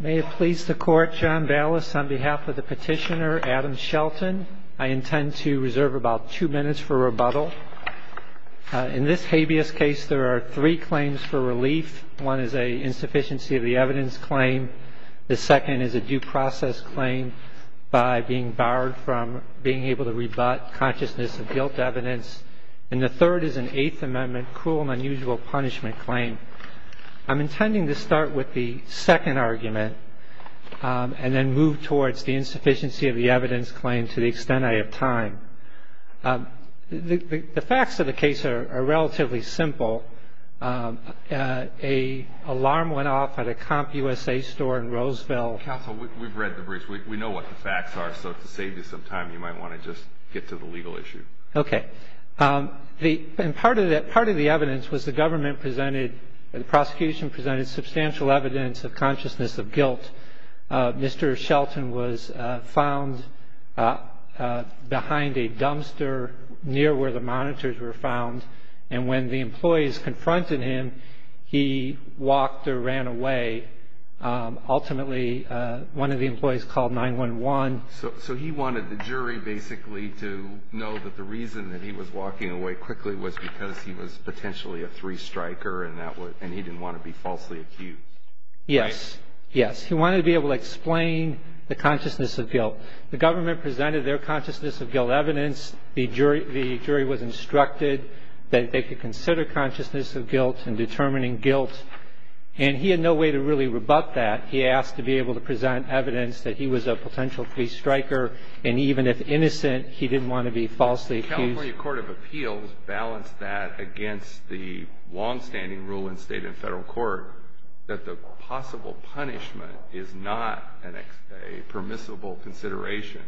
May it please the Court, John Ballas, on behalf of the petitioner Adam Shelton, I intend to reserve about two minutes for rebuttal. In this habeas case, there are three claims for relief. One is an insufficiency of the evidence claim. The second is a due process claim by being barred from being able to rebut consciousness of guilt evidence. And the third is an Eighth Amendment cruel and unusual punishment claim. I'm intending to start with the second argument and then move towards the insufficiency of the evidence claim to the extent I have time. The facts of the case are relatively simple. An alarm went off at a CompUSA store in Roseville. Counsel, we've read the briefs. We know what the facts are. So to save you some time, you might want to just get to the legal issue. Okay. And part of the evidence was the government presented, the prosecution presented substantial evidence of consciousness of guilt. Mr. Shelton was found behind a dumpster near where the monitors were found. And when the employees confronted him, he walked or ran away. Ultimately, one of the employees called 911. So he wanted the jury basically to know that the reason that he was walking away quickly was because he was potentially a three striker and he didn't want to be falsely acute. Yes. Yes. He wanted to be able to explain the consciousness of guilt. The government presented their consciousness of guilt evidence. The jury was instructed that they could consider consciousness of guilt and determining guilt. And he had no way to really rebut that. He asked to be able to present evidence that he was a potential three striker. And even if innocent, he didn't want to be falsely accused. The California Court of Appeals balanced that against the longstanding rule in state and federal court that the possible punishment is not a permissible consideration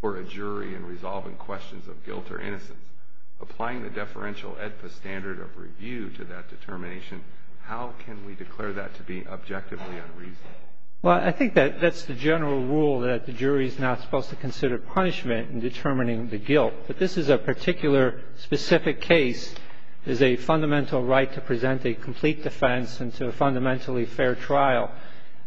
for a jury in resolving questions of guilt or innocence. Applying the deferential standard of review to that determination, how can we declare that to be objectively unreasonable? Well, I think that's the general rule that the jury is not supposed to consider punishment in determining the guilt. But this is a particular specific case. It is a fundamental right to present a complete defense and to a fundamentally fair trial.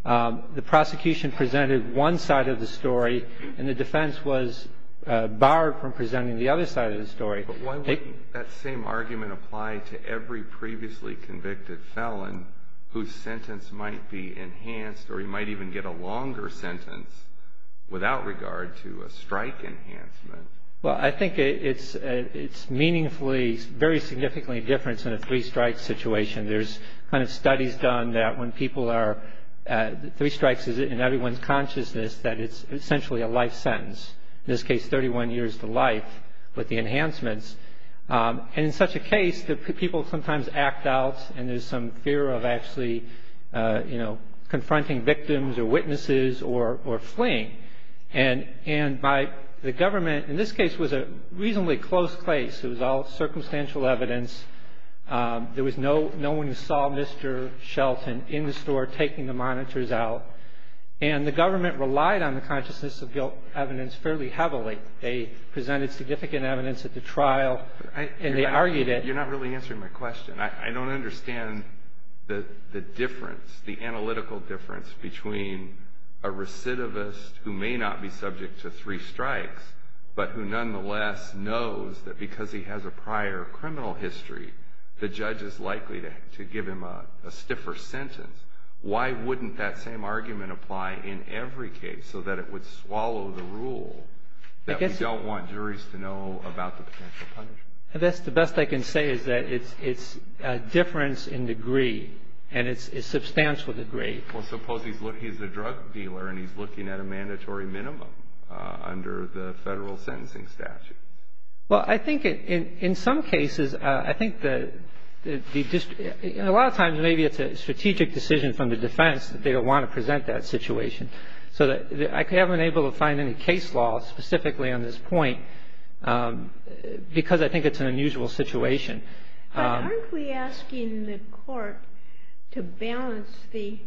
The prosecution presented one side of the story and the defense was barred from presenting the other side of the story. But why wouldn't that same argument apply to every previously convicted felon whose sentence might be enhanced or he might even get a longer sentence without regard to a strike enhancement? Well, I think it's meaningfully very significantly different than a three strike situation. There's kind of studies done that when people are three strikes in everyone's consciousness that it's essentially a life sentence. In this case, 31 years to life with the enhancements. And in such a case, the people sometimes act out and there's some fear of actually, you know, confronting victims or witnesses or fleeing. And by the government, in this case, was a reasonably close place. It was all circumstantial evidence. There was no one who saw Mr. Shelton in the store taking the monitors out. And the government relied on the consciousness of guilt evidence fairly heavily. They presented significant evidence at the trial and they argued it. You're not really answering my question. I don't understand the difference, the analytical difference, between a recidivist who may not be subject to three strikes but who nonetheless knows that because he has a prior criminal history, the judge is likely to give him a stiffer sentence. Why wouldn't that same argument apply in every case so that it would swallow the rule that we don't want juries to know about the potential punishment? The best I can say is that it's a difference in degree and it's substantial degree. Well, suppose he's a drug dealer and he's looking at a mandatory minimum under the federal sentencing statute. Well, I think in some cases, I think that a lot of times maybe it's a strategic decision from the defense that they don't want to present that situation. So I haven't been able to find any case law specifically on this point because I think it's an unusual situation. But aren't we asking the Court to balance the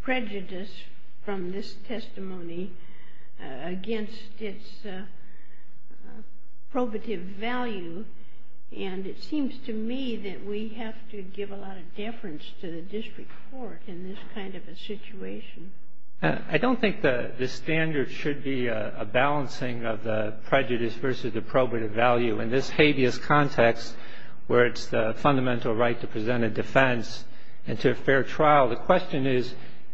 prejudice from this testimony against its probative value? And it seems to me that we have to give a lot of deference to the district court in this kind of a situation. I don't think the standard should be a balancing of the prejudice versus the probative value. In this habeas context where it's the fundamental right to present a defense and to a fair trial, the question is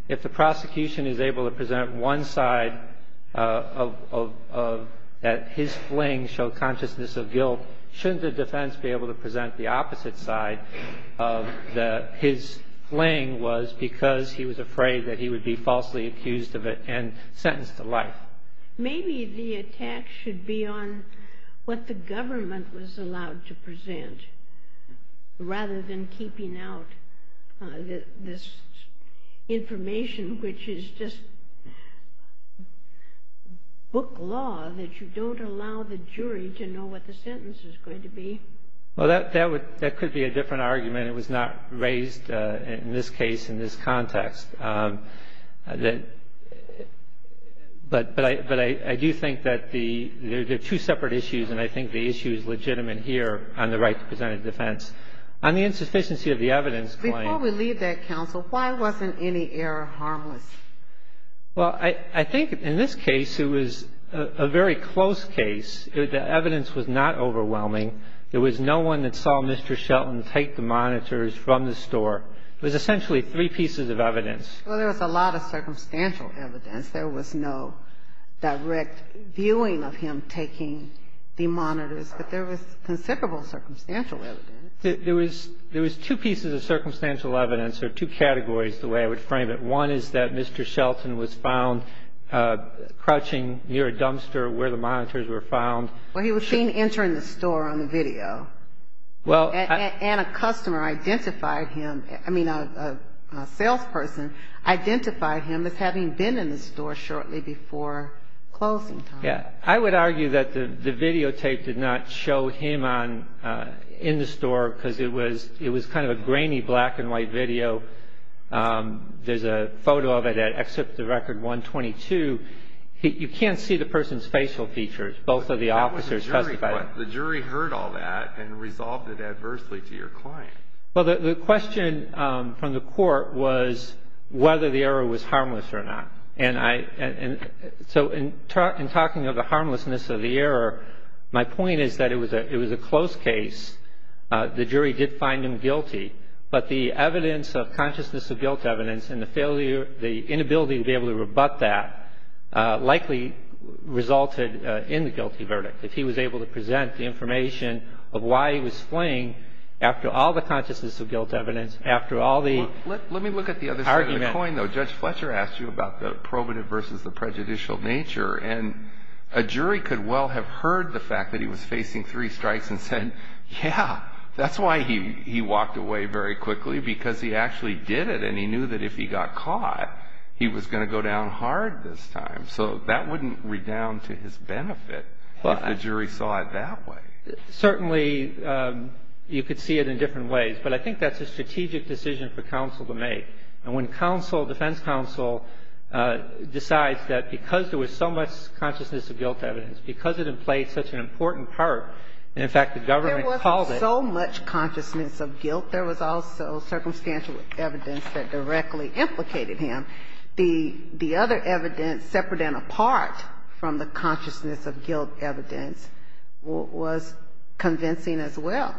if the prosecution is able to present one side of that his fling showed consciousness of guilt, shouldn't the defense be able to present the opposite side of that his fling was because he was afraid that he would be falsely accused of it and sentenced to life? Maybe the attack should be on what the government was allowed to present rather than keeping out this information which is just book law that you don't allow the jury to know what the sentence is going to be. Well, that could be a different argument. It was not raised in this case in this context. But I do think that there are two separate issues and I think the issue is legitimate here on the right to present a defense. On the insufficiency of the evidence claim. Before we leave that, counsel, why wasn't any error harmless? Well, I think in this case it was a very close case. The evidence was not overwhelming. There was no one that saw Mr. Shelton take the monitors from the store. It was essentially three pieces of evidence. Well, there was a lot of circumstantial evidence. There was no direct viewing of him taking the monitors, but there was considerable circumstantial evidence. There was two pieces of circumstantial evidence or two categories the way I would frame it. One is that Mr. Shelton was found crouching near a dumpster where the monitors were found. Well, he was seen entering the store on the video. And a customer identified him. I mean, a salesperson identified him as having been in the store shortly before closing time. Yeah. I would argue that the videotape did not show him in the store because it was kind of a grainy black and white video. There's a photo of it at Exhibit 122. You can't see the person's facial features. Both of the officers testified. But the jury heard all that and resolved it adversely to your client. Well, the question from the court was whether the error was harmless or not. And so in talking of the harmlessness of the error, my point is that it was a close case. The jury did find him guilty. But the evidence of consciousness of guilt evidence and the inability to be able to rebut that likely resulted in the guilty verdict. If he was able to present the information of why he was fleeing after all the consciousness of guilt evidence, after all the argument. Let me look at the other side of the coin, though. Judge Fletcher asked you about the probative versus the prejudicial nature. And a jury could well have heard the fact that he was facing three strikes and said, yeah, that's why he walked away. Very quickly, because he actually did it. And he knew that if he got caught, he was going to go down hard this time. So that wouldn't redound to his benefit if the jury saw it that way. Certainly, you could see it in different ways. But I think that's a strategic decision for counsel to make. And when counsel, defense counsel, decides that because there was so much consciousness of guilt evidence, because it employs such an important part, and, in fact, the government called it. So much consciousness of guilt. There was also circumstantial evidence that directly implicated him. The other evidence, separate and apart from the consciousness of guilt evidence, was convincing as well.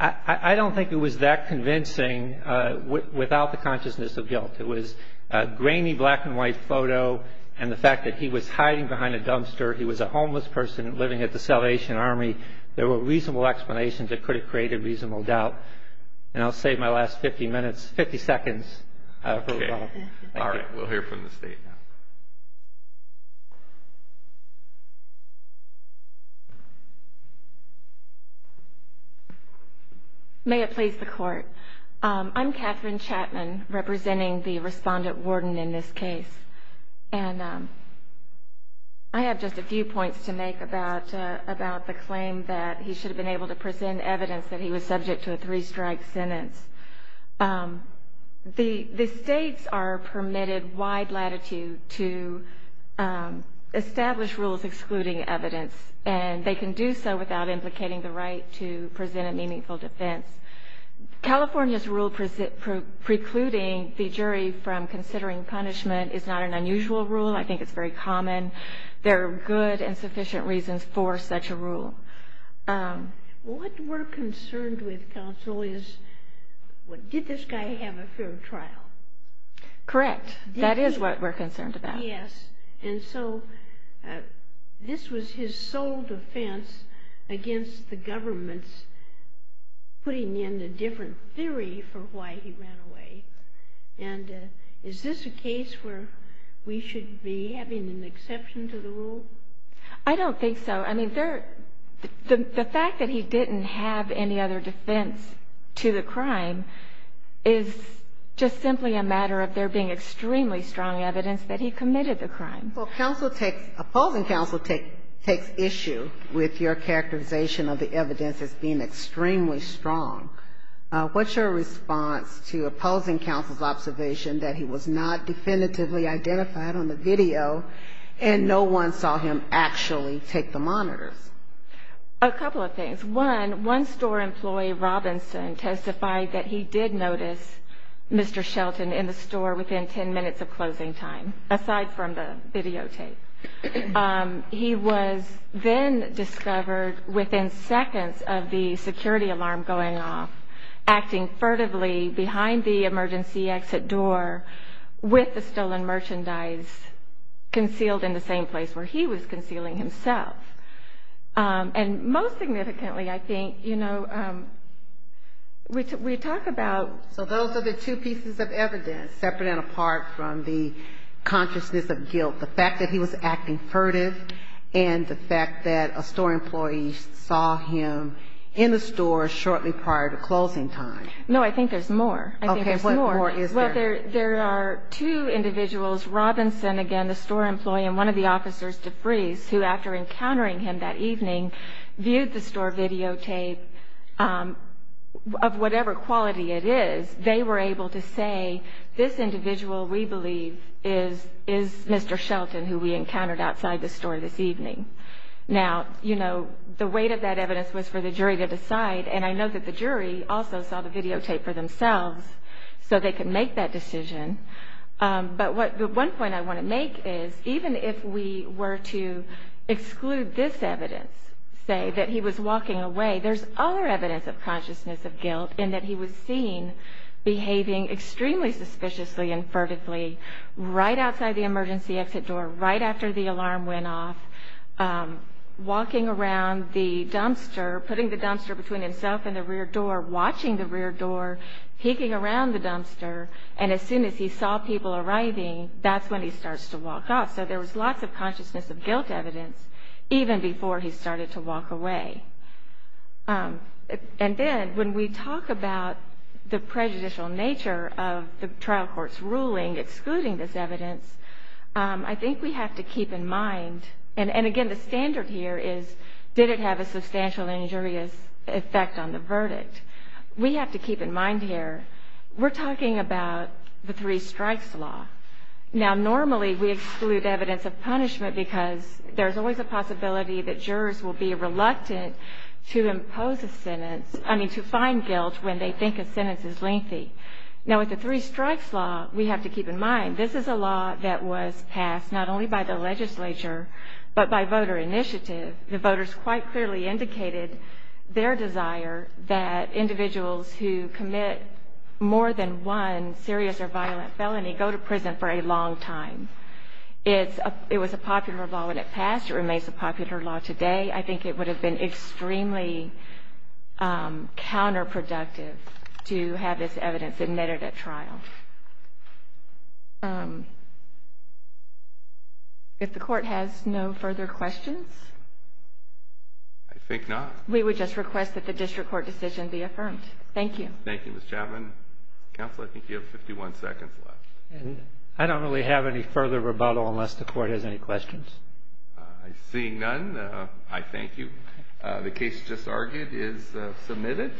I don't think it was that convincing without the consciousness of guilt. It was a grainy black-and-white photo and the fact that he was hiding behind a dumpster. He was a homeless person living at the Salvation Army. There were reasonable explanations that could have created reasonable doubt. And I'll save my last 50 minutes, 50 seconds. Okay. All right. We'll hear from the State now. May it please the Court. I'm Catherine Chapman, representing the Respondent Warden in this case. And I have just a few points to make about the claim that he should have been able to present evidence that he was subject to a three-strike sentence. The States are permitted wide latitude to establish rules excluding evidence. And they can do so without implicating the right to present a meaningful defense. California's rule precluding the jury from considering punishment is not an unusual rule. I think it's very common. There are good and sufficient reasons for such a rule. What we're concerned with, Counsel, is did this guy have a fair trial? Correct. That is what we're concerned about. Yes. And so this was his sole defense against the government's putting in a different theory for why he ran away. And is this a case where we should be having an exception to the rule? I don't think so. I mean, the fact that he didn't have any other defense to the crime is just simply a matter of there being extremely strong evidence that he committed the crime. Well, opposing counsel takes issue with your characterization of the evidence as being extremely strong. What's your response to opposing counsel's observation that he was not definitively identified on the video and no one saw him actually take the monitors? A couple of things. One, one store employee, Robinson, testified that he did notice Mr. Shelton in the store within 10 minutes of closing time, aside from the videotape. He was then discovered within seconds of the security alarm going off, acting furtively behind the emergency exit door with the stolen merchandise concealed in the same place where he was concealing himself. And most significantly, I think, you know, we talk about... So those are the two pieces of evidence, separate and apart from the consciousness of guilt, the fact that he was acting furtive and the fact that a store employee saw him in the store shortly prior to closing time. No, I think there's more. I think there's more. Okay, what more is there? Well, there are two individuals, Robinson, again, the store employee, and one of the officers, DeVries, who, after encountering him that evening, viewed the store videotape of whatever quality it is. They were able to say, this individual, we believe, is Mr. Shelton, who we encountered outside the store this evening. Now, you know, the weight of that evidence was for the jury to decide, and I know that the jury also saw the videotape for themselves so they could make that decision. But the one point I want to make is, even if we were to exclude this evidence, say that he was walking away, there's other evidence of consciousness of guilt in that he was seen behaving extremely suspiciously and furtively right outside the emergency exit door, right after the alarm went off, walking around the dumpster, putting the dumpster between himself and the rear door, watching the rear door, peeking around the dumpster, and as soon as he saw people arriving, that's when he starts to walk off. So there was lots of consciousness of guilt evidence even before he started to walk away. And then, when we talk about the prejudicial nature of the trial court's ruling excluding this evidence, I think we have to keep in mind, and again, the standard here is, did it have a substantial injurious effect on the verdict? We have to keep in mind here, we're talking about the three strikes law. Now, normally, we exclude evidence of punishment because there's always a possibility that jurors will be reluctant to impose a sentence, I mean, to find guilt when they think a sentence is lengthy. Now, with the three strikes law, we have to keep in mind, this is a law that was passed not only by the legislature, but by voter initiative. The voters quite clearly indicated their desire that individuals who commit more than one serious or violent felony go to prison for a long time. It was a popular law when it passed. It remains a popular law today. I think it would have been extremely counterproductive to have this evidence admitted at trial. If the court has no further questions? I think not. We would just request that the district court decision be affirmed. Thank you. Thank you, Ms. Chapman. Counsel, I think you have 51 seconds left. I don't really have any further rebuttal unless the court has any questions. Seeing none, I thank you. The case just argued is submitted.